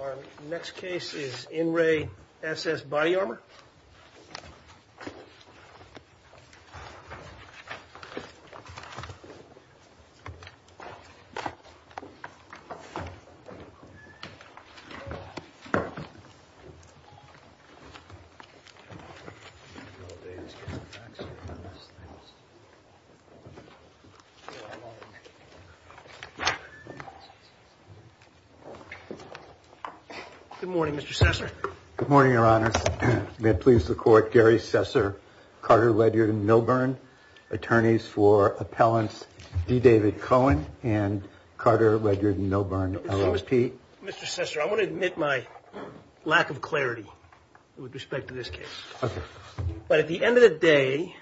Our next case is In Re S.S.Body Armor. Good morning, Mr. Sessor. Good morning, Your Honors. May it please the Court, Gary Sessor, Carter, Ledger, and Milburn, attorneys for Appellants D. David Cohen and Carter, Ledger, and Milburn, L.O.P. Mr. Sessor, I want to admit my lack of clarity with respect to this case. Okay. But at the end of the day,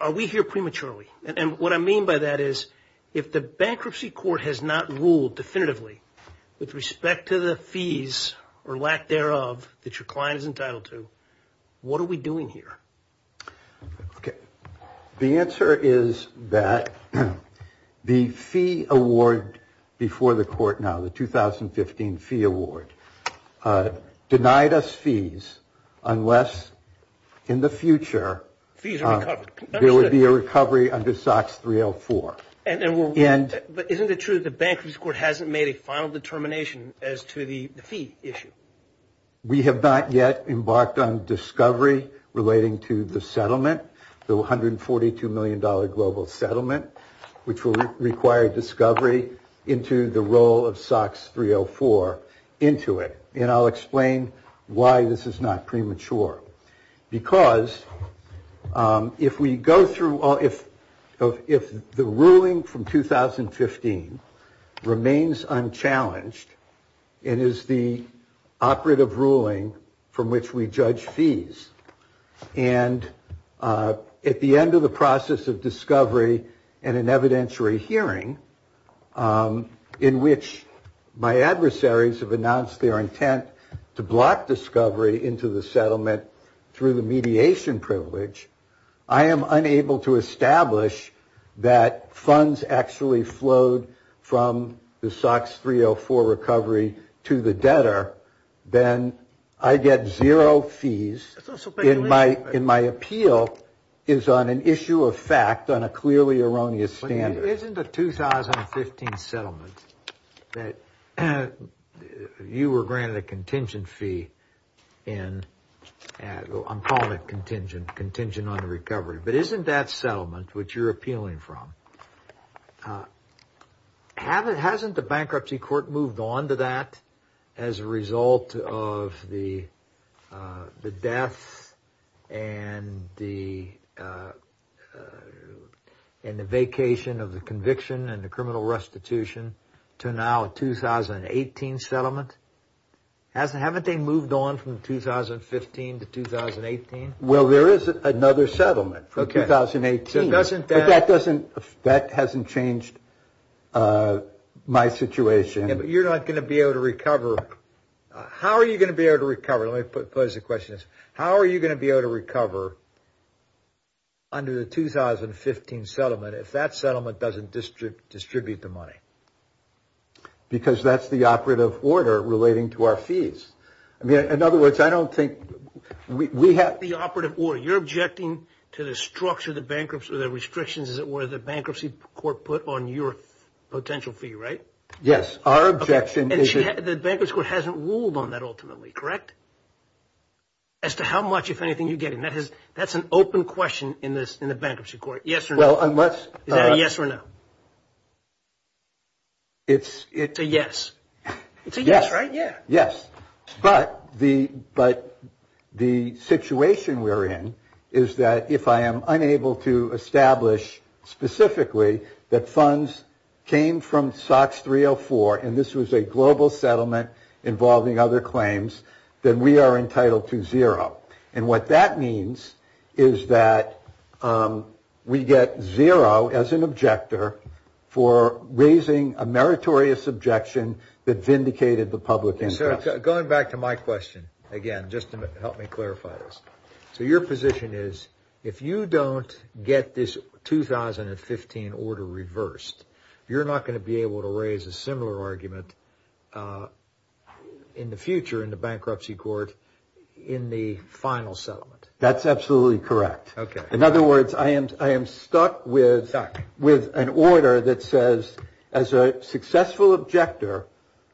are we here prematurely? And what I mean by that is if the bankruptcy court has not ruled definitively with respect to the fees or lack thereof that your client is entitled to, what are we doing here? Okay. The answer is that the fee award before the court now, the 2015 fee award, denied us fees unless in the future Fees are recovered. There would be a recovery under SOX 304. But isn't it true that the bankruptcy court hasn't made a final determination as to the fee issue? We have not yet embarked on discovery relating to the settlement, the $142 million global settlement, which will require discovery into the role of SOX 304 into it. And I'll explain why this is not premature. Because if we go through, if the ruling from 2015 remains unchallenged, it is the operative ruling from which we judge fees. And at the end of the process of discovery and an evidentiary hearing in which my adversaries have announced their intent to block discovery into the settlement through the mediation privilege, I am unable to establish that funds actually flowed from the SOX 304 recovery to the debtor. Then I get zero fees. And my appeal is on an issue of fact on a clearly erroneous standard. Isn't a 2015 settlement that you were granted a contingent fee in? I'm calling it contingent, contingent on the recovery. But isn't that settlement which you're appealing from? Hasn't the bankruptcy court moved on to that as a result of the death and the vacation of the conviction and the criminal restitution to now a 2018 settlement? Haven't they moved on from 2015 to 2018? Well, there is another settlement from 2018. But that hasn't changed my situation. Yeah, but you're not going to be able to recover. How are you going to be able to recover? Let me pose the question. How are you going to be able to recover under the 2015 settlement if that settlement doesn't distribute the money? Because that's the operative order relating to our fees. I mean, in other words, I don't think we have. You're not the operative order. You're objecting to the structure of the bankruptcy or the restrictions, as it were, the bankruptcy court put on your potential fee, right? Yes, our objection is. And the bankruptcy court hasn't ruled on that ultimately, correct? As to how much, if anything, you're getting. That's an open question in the bankruptcy court, yes or no. Is that a yes or no? It's a yes. It's a yes, right? Yes. Yes. But the situation we're in is that if I am unable to establish specifically that funds came from SOX 304, and this was a global settlement involving other claims, then we are entitled to zero. And what that means is that we get zero as an objector for raising a meritorious objection that vindicated the public interest. Going back to my question again, just to help me clarify this. So your position is if you don't get this 2015 order reversed, you're not going to be able to raise a similar argument in the future in the bankruptcy court in the final settlement? That's absolutely correct. Okay. In other words, I am stuck with an order that says as a successful objector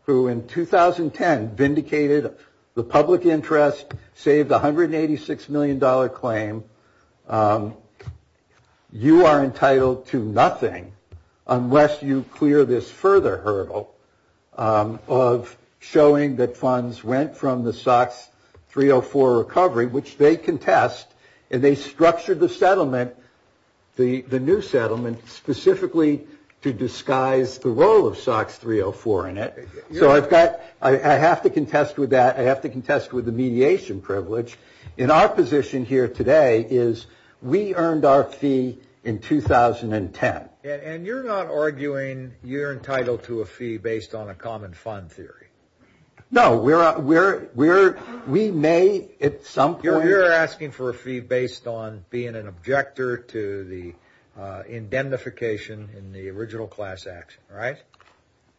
who in 2010 vindicated the public interest, saved $186 million claim, you are entitled to nothing unless you clear this further hurdle of showing that funds went from the SOX 304 recovery, which they contest. And they structured the settlement, the new settlement, specifically to disguise the role of SOX 304 in it. So I have to contest with that. I have to contest with the mediation privilege. And our position here today is we earned our fee in 2010. And you're not arguing you're entitled to a fee based on a common fund theory? No, we may at some point. You're asking for a fee based on being an objector to the indemnification in the original class action, right?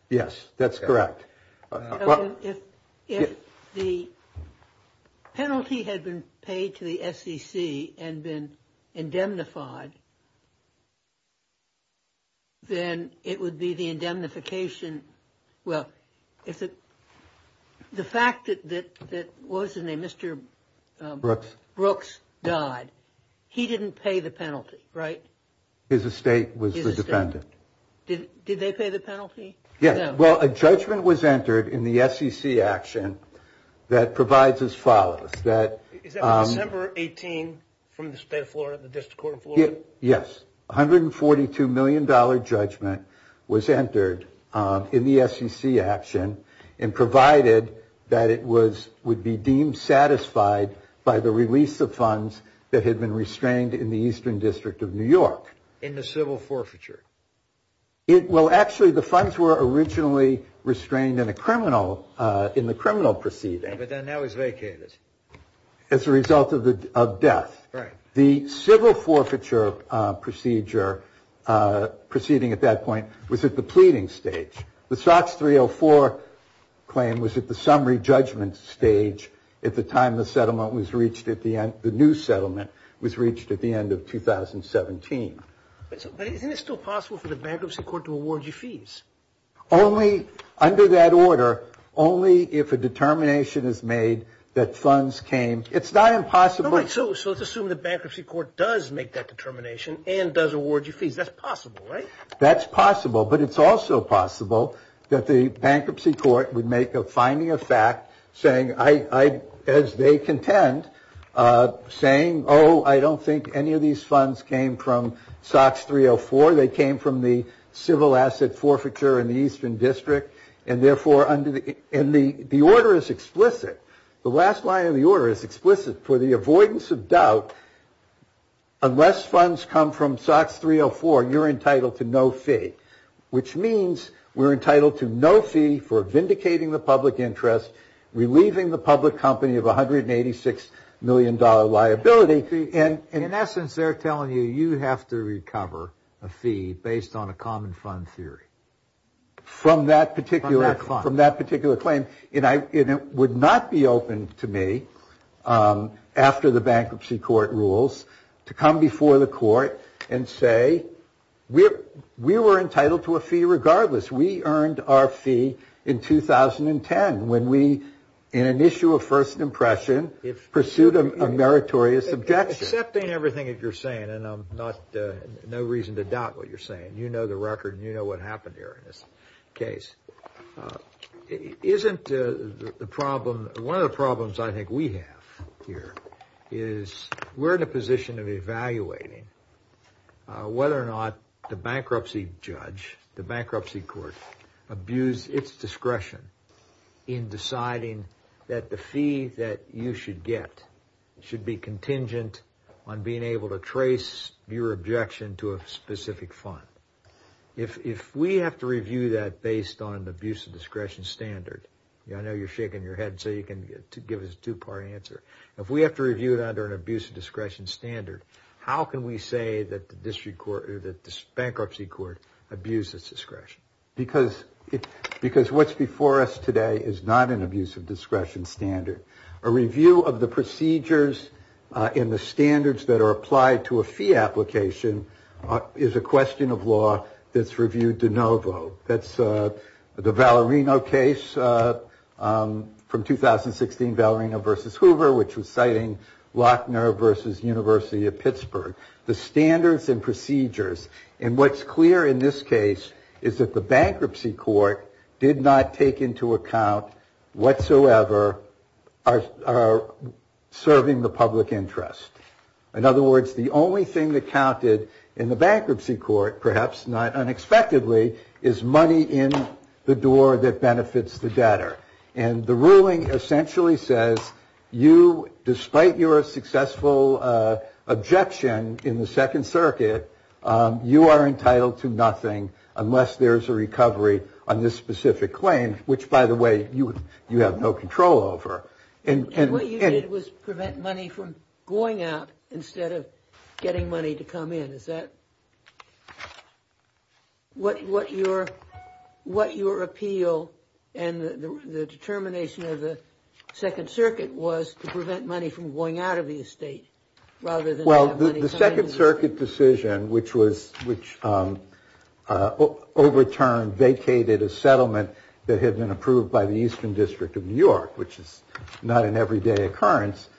Yes, that's correct. If the penalty had been paid to the SEC and been indemnified, then it would be the indemnification. Well, if the fact that that wasn't a Mr. Brooks died, he didn't pay the penalty, right? His estate was the defendant. Did they pay the penalty? Yes. Well, a judgment was entered in the SEC action that provides as follows. Is that December 18 from the State of Florida, the District Court of Florida? Yes. A $142 million judgment was entered in the SEC action and provided that it would be deemed satisfied by the release of funds that had been restrained in the Eastern District of New York. In the civil forfeiture? Well, actually, the funds were originally restrained in the criminal proceeding. But they're now vacated. As a result of death. Right. The civil forfeiture procedure proceeding at that point was at the pleading stage. The SOX 304 claim was at the summary judgment stage at the time the settlement was reached, the new settlement was reached at the end of 2017. But isn't it still possible for the bankruptcy court to award you fees? Only under that order, only if a determination is made that funds came. It's not impossible. So let's assume the bankruptcy court does make that determination and does award you fees. That's possible, right? That's possible. But it's also possible that the bankruptcy court would make a finding of fact saying, as they contend, saying, oh, I don't think any of these funds came from SOX 304. They came from the civil asset forfeiture in the Eastern District. And therefore, the order is explicit. The last line of the order is explicit. For the avoidance of doubt, unless funds come from SOX 304, you're entitled to no fee. Which means we're entitled to no fee for vindicating the public interest, relieving the public company of $186 million liability. In essence, they're telling you you have to recover a fee based on a common fund theory. From that particular claim. And it would not be open to me, after the bankruptcy court rules, to come before the court and say we were entitled to a fee regardless. We earned our fee in 2010 when we, in an issue of first impression, pursued a meritorious objection. Accepting everything that you're saying, and I'm not, no reason to doubt what you're saying. You know the record and you know what happened here in this case. Isn't the problem, one of the problems I think we have here is we're in a position of evaluating whether or not the bankruptcy judge, the bankruptcy court, abused its discretion in deciding that the fee that you should get should be contingent on being able to trace your objection to a specific fund. If we have to review that based on an abuse of discretion standard, I know you're shaking your head so you can give us a two-part answer. If we have to review it under an abuse of discretion standard, how can we say that the bankruptcy court abused its discretion? Because what's before us today is not an abuse of discretion standard. A review of the procedures and the standards that are applied to a fee application is a question of law that's reviewed de novo. That's the Valerino case from 2016, Valerino versus Hoover, which was citing Lochner versus University of Pittsburgh. The standards and procedures, and what's clear in this case is that the bankruptcy court did not take into account whatsoever our serving the public interest. In other words, the only thing that counted in the bankruptcy court, perhaps not unexpectedly, is money in the door that benefits the debtor. And the ruling essentially says, despite your successful objection in the Second Circuit, you are entitled to nothing unless there is a recovery on this specific claim, which, by the way, you have no control over. And what you did was prevent money from going out instead of getting money to come in. Is that what your appeal and the determination of the Second Circuit was, to prevent money from going out of the estate rather than money coming in? Well, the Second Circuit decision, which overturned, vacated a settlement that had been approved by the Eastern District of New York, which is not an everyday occurrence,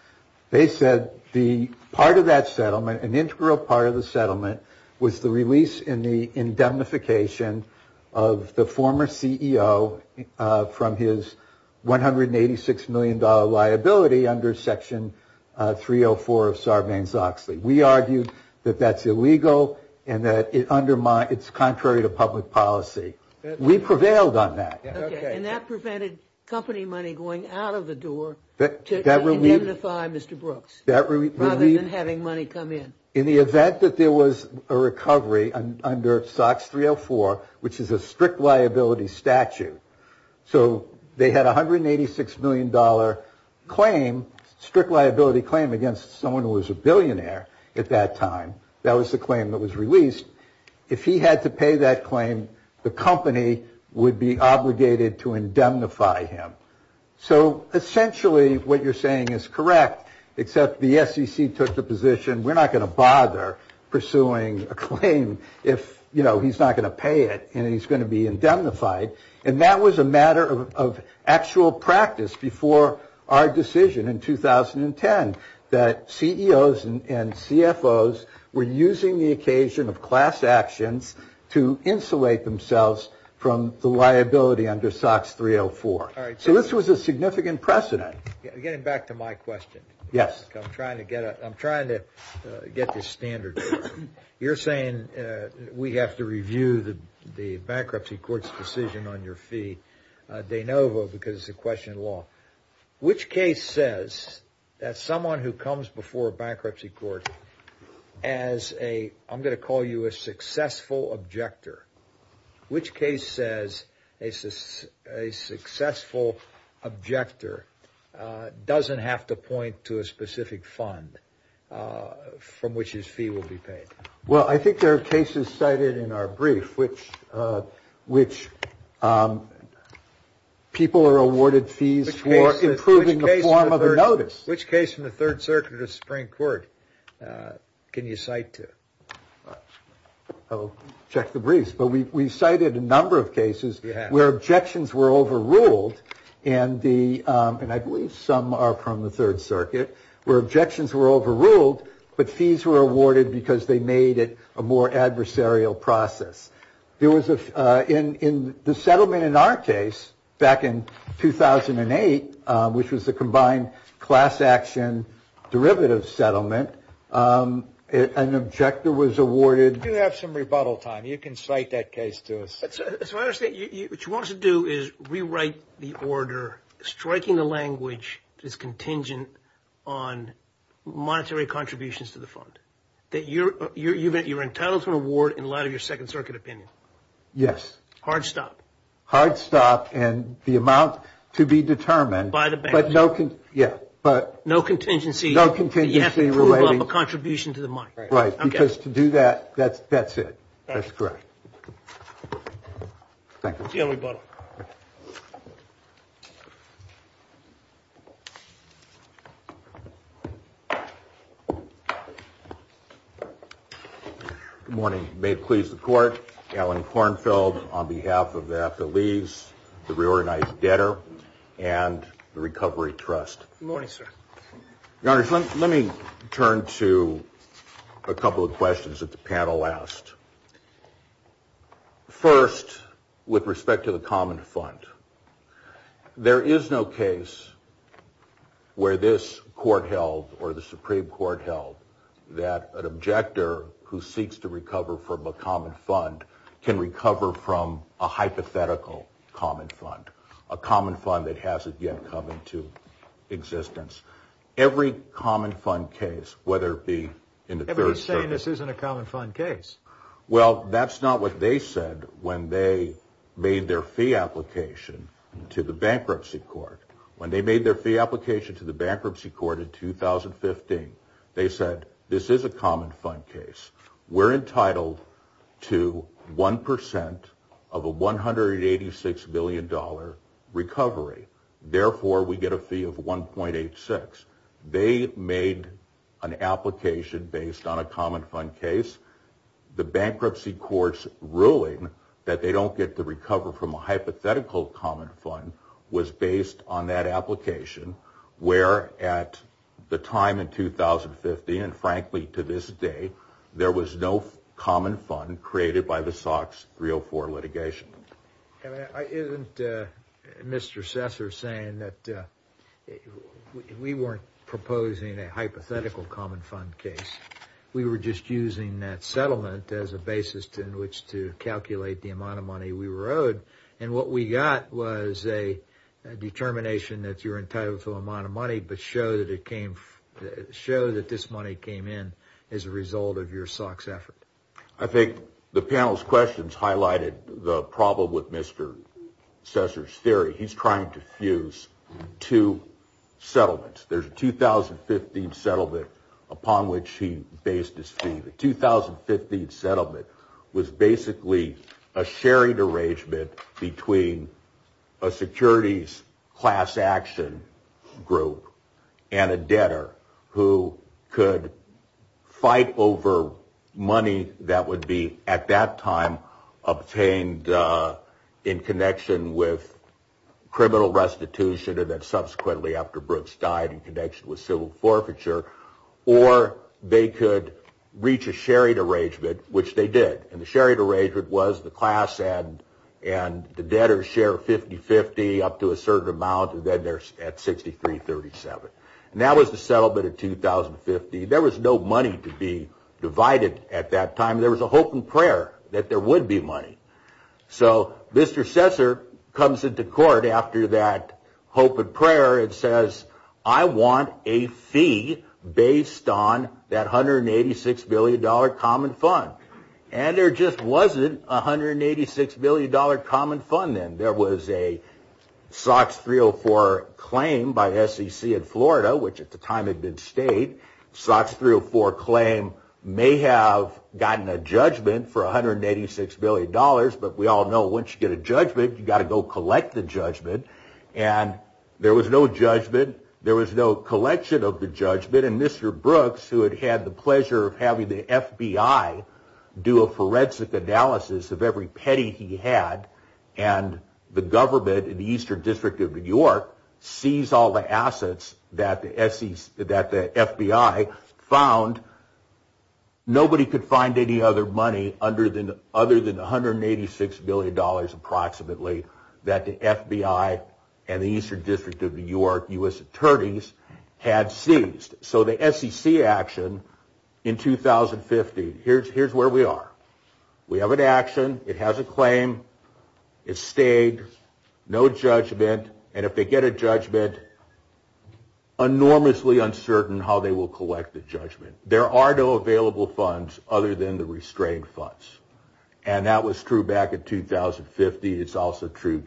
they said the part of that settlement, an integral part of the settlement, was the release and the indemnification of the former CEO from his $186 million liability under Section 304 of Sarbanes-Oxley. We argued that that's illegal and that it's contrary to public policy. We prevailed on that. And that prevented company money going out of the door to indemnify Mr. Brooks rather than having money come in. In the event that there was a recovery under SOX 304, which is a strict liability statute, so they had a $186 million claim, strict liability claim, against someone who was a billionaire at that time. If he had to pay that claim, the company would be obligated to indemnify him. So essentially what you're saying is correct, except the SEC took the position, we're not going to bother pursuing a claim if he's not going to pay it and he's going to be indemnified. And that was a matter of actual practice before our decision in 2010, that CEOs and CFOs were using the occasion of class actions to insulate themselves from the liability under SOX 304. So this was a significant precedent. Getting back to my question. Yes. I'm trying to get this standard. You're saying we have to review the bankruptcy court's decision on your fee de novo because it's a question of law. Which case says that someone who comes before a bankruptcy court as a, I'm going to call you a successful objector, which case says a successful objector doesn't have to point to a specific fund from which his fee will be paid? Well, I think there are cases cited in our brief which people are awarded fees for improving the form of a notice. Which case from the Third Circuit of the Supreme Court can you cite to? I'll check the briefs, but we cited a number of cases where objections were overruled. And the and I believe some are from the Third Circuit where objections were overruled, but fees were awarded because they made it a more adversarial process. There was in the settlement in our case back in 2008, which was the combined class action derivative settlement. An objector was awarded. You have some rebuttal time. You can cite that case to us. So what you want to do is rewrite the order, striking the language that is contingent on monetary contributions to the fund. That you're entitled to an award in light of your Second Circuit opinion. Yes. Hard stop. Hard stop and the amount to be determined. By the bank. Yeah, but. No contingency. No contingency relating. You have to prove a contribution to the money. Right, because to do that, that's it. That's correct. Thank you. See you on rebuttal. Good morning. May it please the Court. Alan Kornfeld on behalf of AFTA Lease, the Reorganized Debtor, and the Recovery Trust. Good morning, sir. Let me turn to a couple of questions that the panel asked. First, with respect to the common fund. There is no case where this court held or the Supreme Court held that an objector who seeks to recover from a common fund can recover from a hypothetical common fund. A common fund that hasn't yet come into existence. Every common fund case, whether it be in the Third Circuit. Everybody's saying this isn't a common fund case. Well, that's not what they said when they made their fee application to the Bankruptcy Court. When they made their fee application to the Bankruptcy Court in 2015, they said this is a common fund case. We're entitled to 1% of a $186 billion recovery. Therefore, we get a fee of 1.86. They made an application based on a common fund case. The Bankruptcy Court's ruling that they don't get to recover from a hypothetical common fund was based on that application. Where at the time in 2015, and frankly to this day, there was no common fund created by the SOX 304 litigation. Isn't Mr. Sessor saying that we weren't proposing a hypothetical common fund case? We were just using that settlement as a basis in which to calculate the amount of money we were owed. And what we got was a determination that you're entitled to an amount of money, but show that this money came in as a result of your SOX effort. I think the panel's questions highlighted the problem with Mr. Sessor's theory. He's trying to fuse two settlements. There's a 2015 settlement upon which he based his fee. The 2015 settlement was basically a sharing arrangement between a securities class action group and a debtor who could fight over money that would be at that time obtained in connection with criminal restitution and then subsequently after Brooks died in connection with civil forfeiture. Or they could reach a sharing arrangement, which they did. And the sharing arrangement was the class and the debtor's share of 50-50 up to a certain amount, and then they're at 63-37. And that was the settlement of 2015. There was no money to be divided at that time. There was a hope and prayer that there would be money. So Mr. Sessor comes into court after that hope and prayer and says, I want a fee based on that $186 billion common fund. And there just wasn't a $186 billion common fund then. There was a SOX 304 claim by SEC in Florida, which at the time had been state. SOX 304 claim may have gotten a judgment for $186 billion, but we all know once you get a judgment, you've got to go collect the judgment. And there was no judgment. There was no collection of the judgment. And Mr. Brooks, who had had the pleasure of having the FBI do a forensic analysis of every petty he had, and the government in the Eastern District of New York seized all the assets that the FBI found. Nobody could find any other money other than $186 billion approximately that the FBI and the Eastern District of New York U.S. attorneys had seized. So the SEC action in 2015, here's where we are. We have an action. It has a claim. It's staged. No judgment. And if they get a judgment, enormously uncertain how they will collect the judgment. There are no available funds other than the restrained funds. And that was true back in 2050. It's also true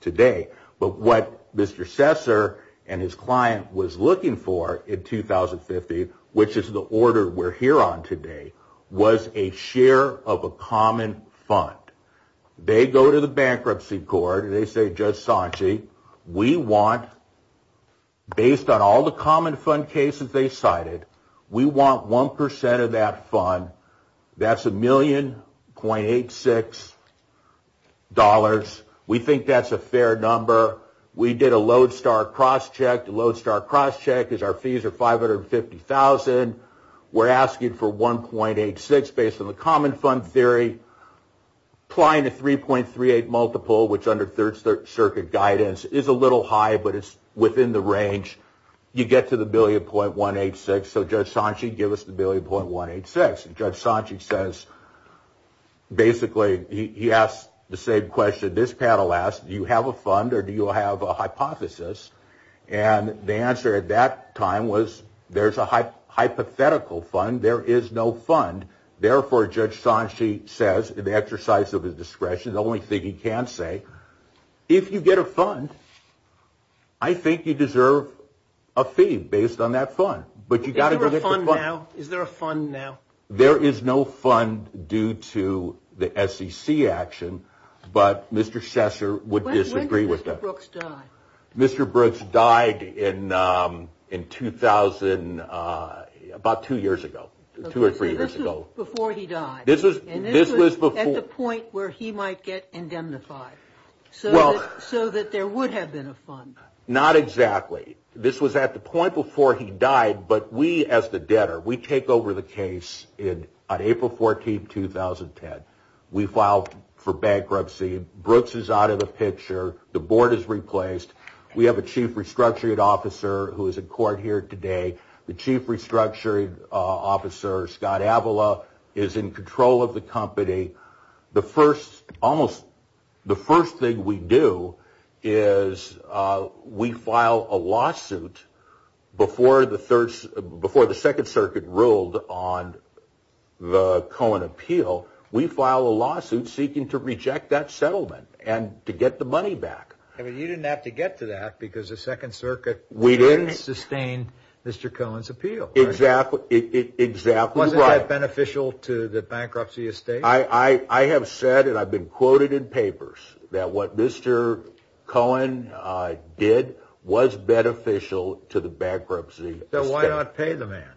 today. But what Mr. Sessor and his client was looking for in 2050, which is the order we're here on today, was a share of a common fund. They go to the bankruptcy court and they say, Judge Sanchi, we want, based on all the common fund cases they cited, we want 1% of that fund. That's $1,000,000.86. We think that's a fair number. We did a Lodestar crosscheck. The Lodestar crosscheck is our fees are $550,000. We're asking for 1.86 based on the common fund theory. Applying the 3.38 multiple, which under Third Circuit guidance is a little high, but it's within the range. You get to the billion .186. So, Judge Sanchi, give us the billion .186. And Judge Sanchi says, basically, he asked the same question this panel asked. Do you have a fund or do you have a hypothesis? And the answer at that time was, there's a hypothetical fund. There is no fund. Therefore, Judge Sanchi says, in the exercise of his discretion, the only thing he can say, if you get a fund, I think you deserve a fee based on that fund. Is there a fund now? There is no fund due to the SEC action, but Mr. Sesser would disagree with that. When did Mr. Brooks die? Mr. Brooks died in 2000, about two years ago, two or three years ago. Before he died. This was before. And this was at the point where he might get indemnified. So that there would have been a fund. Not exactly. This was at the point before he died. But we, as the debtor, we take over the case on April 14, 2010. We filed for bankruptcy. Brooks is out of the picture. The board is replaced. We have a chief restructuring officer who is in court here today. The chief restructuring officer, Scott Avila, is in control of the company. The first thing we do is we file a lawsuit before the Second Circuit ruled on the Cohen appeal. We file a lawsuit seeking to reject that settlement and to get the money back. You didn't have to get to that because the Second Circuit didn't sustain Mr. Cohen's appeal. Exactly right. Wasn't that beneficial to the bankruptcy estate? I have said, and I've been quoted in papers, that what Mr. Cohen did was beneficial to the bankruptcy estate. So why not pay the man?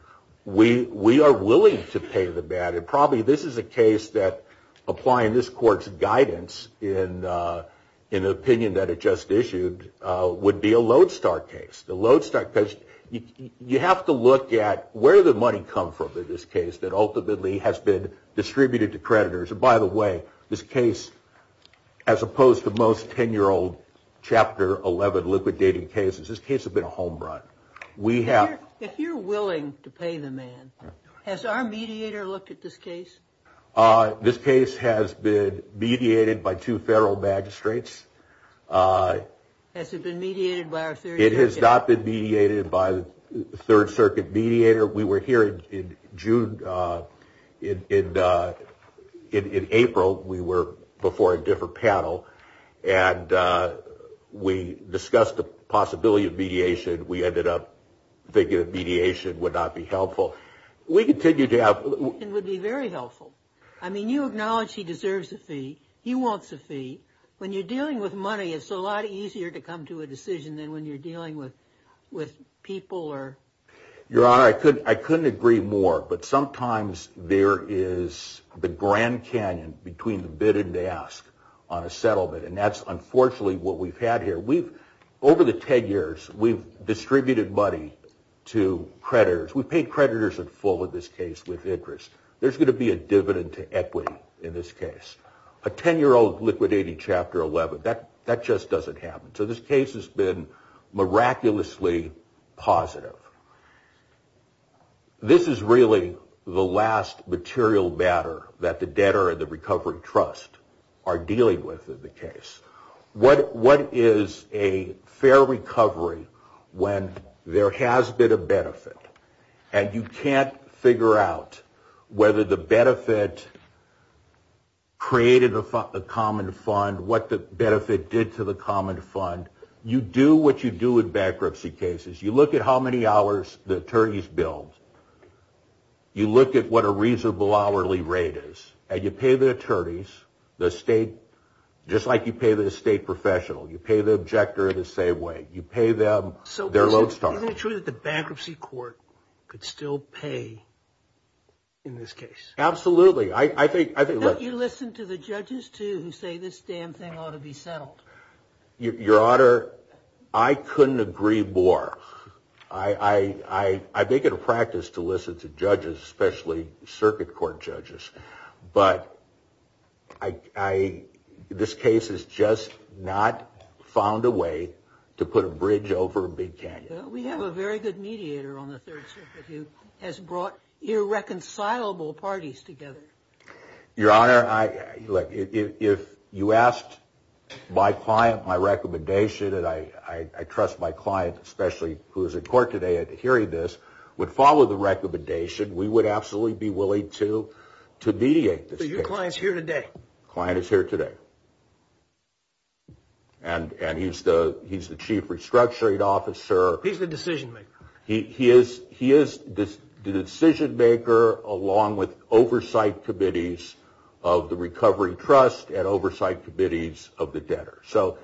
We are willing to pay the man. And probably this is a case that applying this court's guidance in an opinion that it just issued would be a lodestar case. The lodestar case, you have to look at where the money comes from in this case that ultimately has been distributed to creditors. And by the way, this case, as opposed to most 10-year-old Chapter 11 liquidated cases, this case has been a home run. If you're willing to pay the man, has our mediator looked at this case? This case has been mediated by two federal magistrates. Has it been mediated by our Third Circuit? It has not been mediated by the Third Circuit mediator. We were here in April. We were before a different panel. And we discussed the possibility of mediation. We ended up thinking that mediation would not be helpful. We continue to have... It would be very helpful. I mean, you acknowledge he deserves a fee. He wants a fee. When you're dealing with money, it's a lot easier to come to a decision than when you're dealing with people or... Your Honor, I couldn't agree more. But sometimes there is the Grand Canyon between the bid and ask on a settlement. And that's unfortunately what we've had here. Over the 10 years, we've distributed money to creditors. We've paid creditors in full in this case with interest. There's going to be a dividend to equity in this case. A 10-year-old liquidating Chapter 11, that just doesn't happen. So this case has been miraculously positive. This is really the last material matter that the debtor and the recovery trust are dealing with in the case. What is a fair recovery when there has been a benefit, and you can't figure out whether the benefit created a common fund, what the benefit did to the common fund. You do what you do in bankruptcy cases. You look at how many hours the attorneys billed. You look at what a reasonable hourly rate is. And you pay the attorneys, just like you pay the estate professional. You pay the objector the same way. You pay them their load starting. So isn't it true that the bankruptcy court could still pay in this case? Absolutely. Don't you listen to the judges too who say this damn thing ought to be settled? Your Honor, I couldn't agree more. I make it a practice to listen to judges, especially circuit court judges. But this case has just not found a way to put a bridge over a big canyon. We have a very good mediator on the Third Circuit who has brought irreconcilable parties together. Your Honor, if you asked my client my recommendation, and I trust my client especially who is in court today hearing this, would follow the recommendation, we would absolutely be willing to mediate this case. So your client is here today? Client is here today. And he's the chief restructuring officer. He's the decision maker. He is the decision maker along with oversight committees of the recovery trust and oversight committees of the debtor. So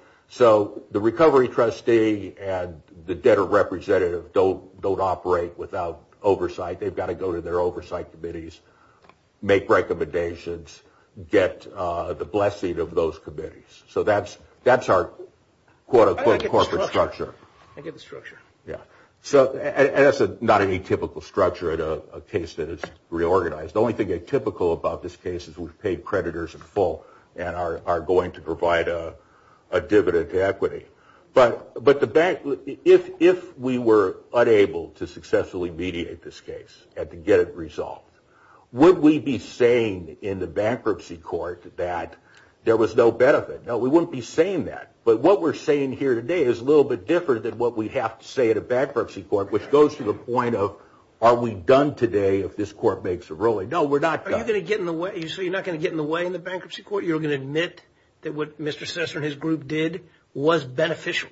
the recovery trustee and the debtor representative don't operate without oversight. They've got to go to their oversight committees, make recommendations, get the blessing of those committees. So that's our quote-unquote corporate structure. I get the structure. Yeah. And that's not any typical structure in a case that is reorganized. The only thing atypical about this case is we've paid creditors in full and are going to provide a dividend to equity. But if we were unable to successfully mediate this case and to get it resolved, would we be saying in the bankruptcy court that there was no benefit? No, we wouldn't be saying that. But what we're saying here today is a little bit different than what we have to say at a bankruptcy court, which goes to the point of are we done today if this court makes a ruling? No, we're not done. Are you going to get in the way? So you're not going to get in the way in the bankruptcy court? You're going to admit that what Mr. Sesser and his group did was beneficial?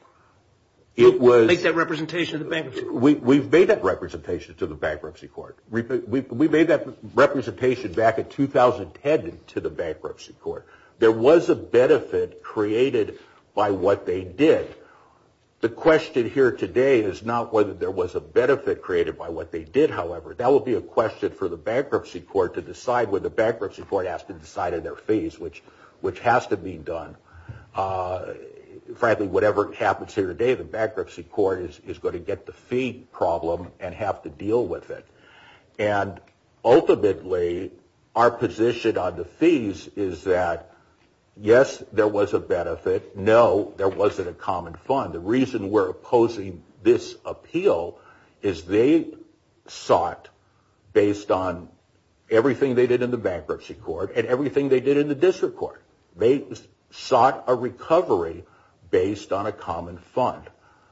It was. Make that representation to the bankruptcy court. We've made that representation to the bankruptcy court. We made that representation back in 2010 to the bankruptcy court. There was a benefit created by what they did. The question here today is not whether there was a benefit created by what they did, however. That would be a question for the bankruptcy court to decide when the bankruptcy court has to decide on their fees, which has to be done. Frankly, whatever happens here today, the bankruptcy court is going to get the fee problem and have to deal with it. Ultimately, our position on the fees is that, yes, there was a benefit. No, there wasn't a common fund. The reason we're opposing this appeal is they sought, based on everything they did in the bankruptcy court and everything they did in the district court, they sought a recovery based on a common fund.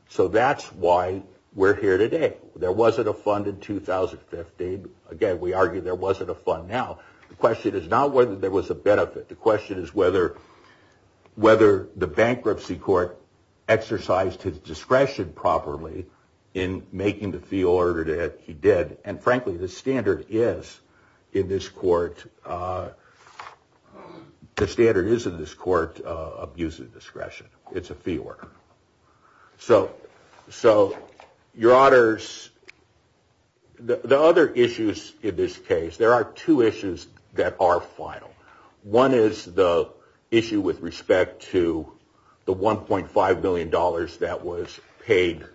So that's why we're here today. There wasn't a fund in 2015. Again, we argue there wasn't a fund now. The question is not whether there was a benefit. The question is whether the bankruptcy court exercised his discretion properly in making the fee order that he did. And frankly, the standard is in this court of using discretion. It's a fee order. So your honors, the other issues in this case, there are two issues that are final. One is the issue with respect to the $1.5 million that was paid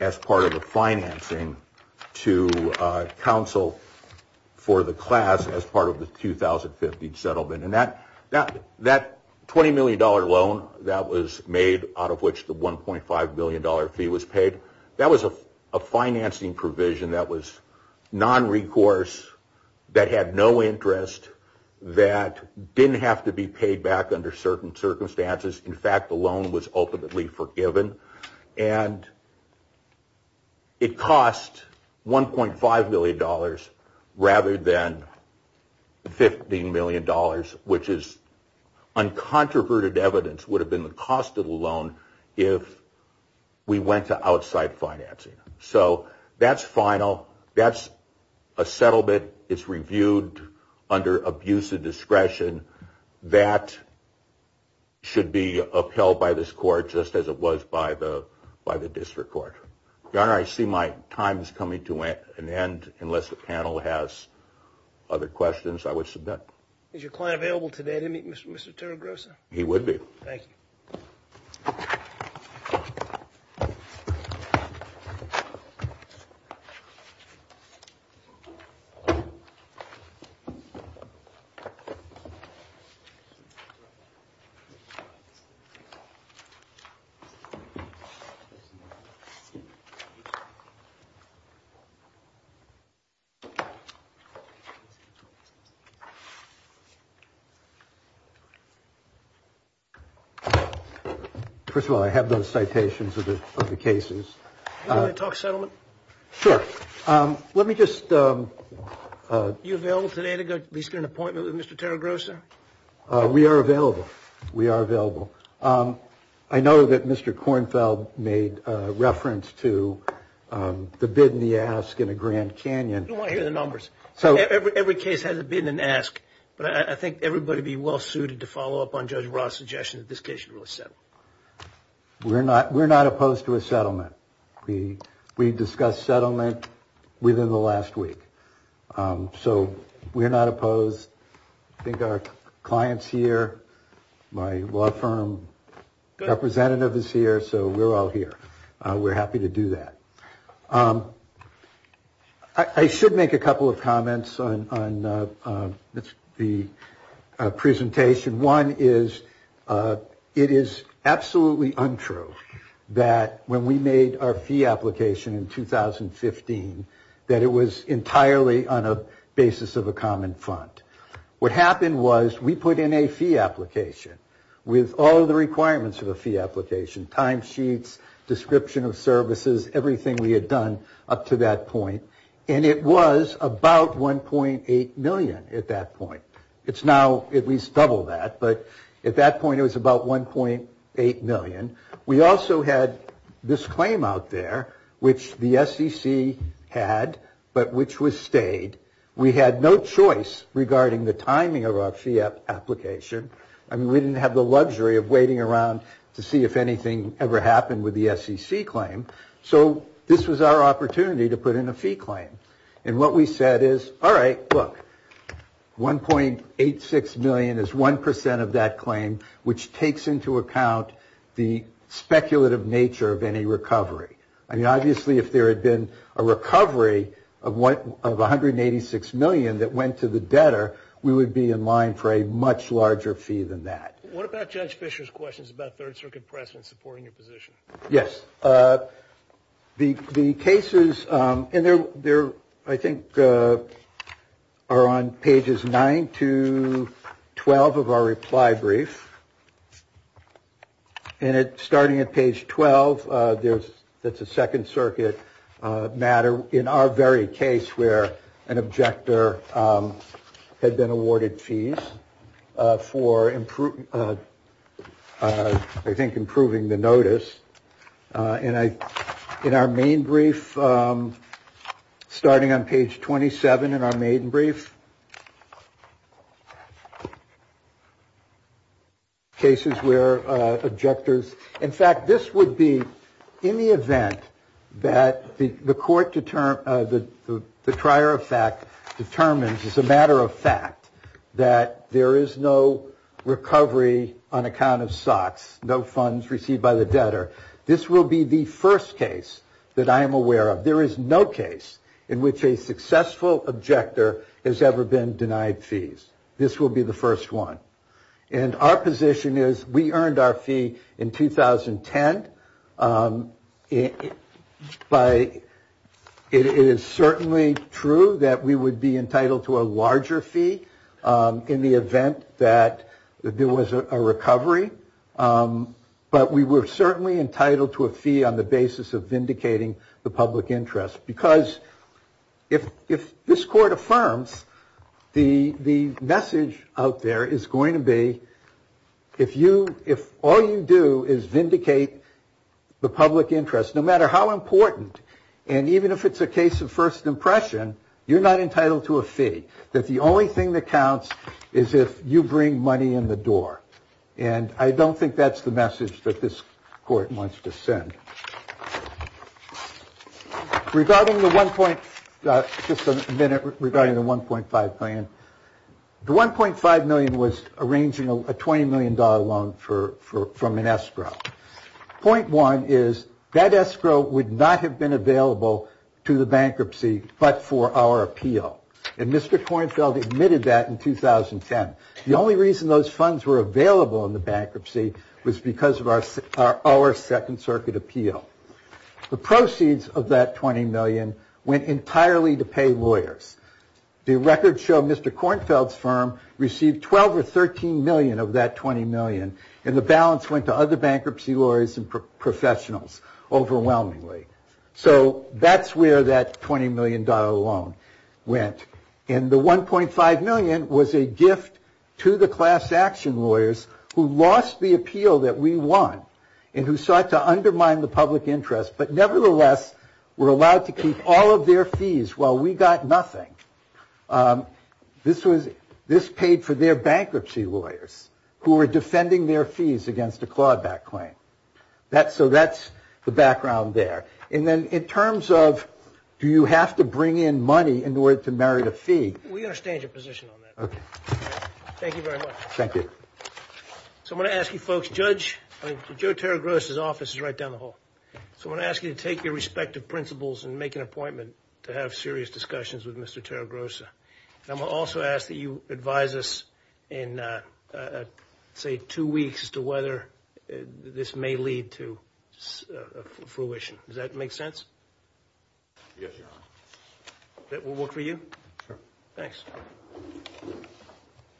as part of the financing to counsel for the class as part of the 2015 settlement. And that $20 million loan that was made out of which the $1.5 million fee was paid, that was a financing provision that was non-recourse, that had no interest, that didn't have to be paid back under certain circumstances. In fact, the loan was ultimately forgiven. And it cost $1.5 million rather than $15 million, which is uncontroverted evidence would have been the cost of the loan if we went to outside financing. So that's final. That's a settlement. It's reviewed under abuse of discretion. That should be upheld by this court just as it was by the district court. Your honor, I see my time is coming to an end. Unless the panel has other questions, I would submit. Is your client available today to meet Mr. Terragrossa? He would be. Thank you. Thank you. First of all, I have those citations of the cases. Can I talk settlement? Sure. Let me just. You available today to at least get an appointment with Mr. Terragrossa? We are available. We are available. I know that Mr. Kornfeld made reference to the bid and the ask in the Grand Canyon. You don't want to hear the numbers. Every case has a bid and ask, but I think everybody would be well suited to follow up on Judge Ross' suggestion that this case should really settle. We're not opposed to a settlement. We discussed settlement within the last week. So we're not opposed. I think our client's here. My law firm representative is here. So we're all here. We're happy to do that. I should make a couple of comments on the presentation. One is it is absolutely untrue that when we made our fee application in 2015, that it was entirely on a basis of a common fund. What happened was we put in a fee application with all the requirements of a fee application, timesheets, description of services, everything we had done up to that point, and it was about $1.8 million at that point. It's now at least double that, but at that point it was about $1.8 million. We also had this claim out there, which the SEC had, but which was stayed. We had no choice regarding the timing of our fee application. I mean, we didn't have the luxury of waiting around to see if anything ever happened with the SEC claim. So this was our opportunity to put in a fee claim. And what we said is, all right, look, $1.86 million is 1% of that claim, which takes into account the speculative nature of any recovery. I mean, obviously if there had been a recovery of $186 million that went to the debtor, we would be in line for a much larger fee than that. What about Judge Fischer's questions about Third Circuit precedent supporting your position? Yes. The cases in there, I think, are on pages 9 to 12 of our reply brief. And starting at page 12, that's a Second Circuit matter in our very case where an objector had been awarded fees for, I think, improving the notice. And in our main brief, starting on page 27 in our main brief, cases where objectors. In fact, this would be in the event that the court, the trier of fact, determines as a matter of fact that there is no recovery on account of SOX, no funds received by the debtor. This will be the first case that I am aware of. There is no case in which a successful objector has ever been denied fees. This will be the first one. And our position is we earned our fee in 2010. But it is certainly true that we would be entitled to a larger fee in the event that there was a recovery. But we were certainly entitled to a fee on the basis of vindicating the public interest. Because if if this court affirms the the message out there is going to be. If you if all you do is vindicate the public interest, no matter how important. And even if it's a case of first impression, you're not entitled to a fee. That the only thing that counts is if you bring money in the door. And I don't think that's the message that this court wants to send regarding the one point. Just a minute regarding the one point five million. The one point five million was arranging a 20 million dollar loan for from an escrow point. One is that escrow would not have been available to the bankruptcy, but for our appeal. And Mr. Kornfeld admitted that in 2010. The only reason those funds were available in the bankruptcy was because of our second circuit appeal. The proceeds of that 20 million went entirely to pay lawyers. The records show Mr. Kornfeld's firm received 12 or 13 million of that 20 million. And the balance went to other bankruptcy lawyers and professionals overwhelmingly. So that's where that 20 million dollar loan went. And the one point five million was a gift to the class action lawyers who lost the appeal that we won. And who sought to undermine the public interest, but nevertheless were allowed to keep all of their fees while we got nothing. This was this paid for their bankruptcy lawyers who were defending their fees against a clawback claim. That's so that's the background there. And then in terms of do you have to bring in money in order to merit a fee? We understand your position on that. Thank you very much. Thank you. So I'm going to ask you folks, Judge, Joe Terragrossa's office is right down the hall. So I'm going to ask you to take your respective principles and make an appointment to have serious discussions with Mr. Terragrossa. And I'm going to also ask that you advise us in, say, two weeks as to whether this may lead to fruition. Does that make sense? Yes, Your Honor. That will work for you? Sure. Thanks.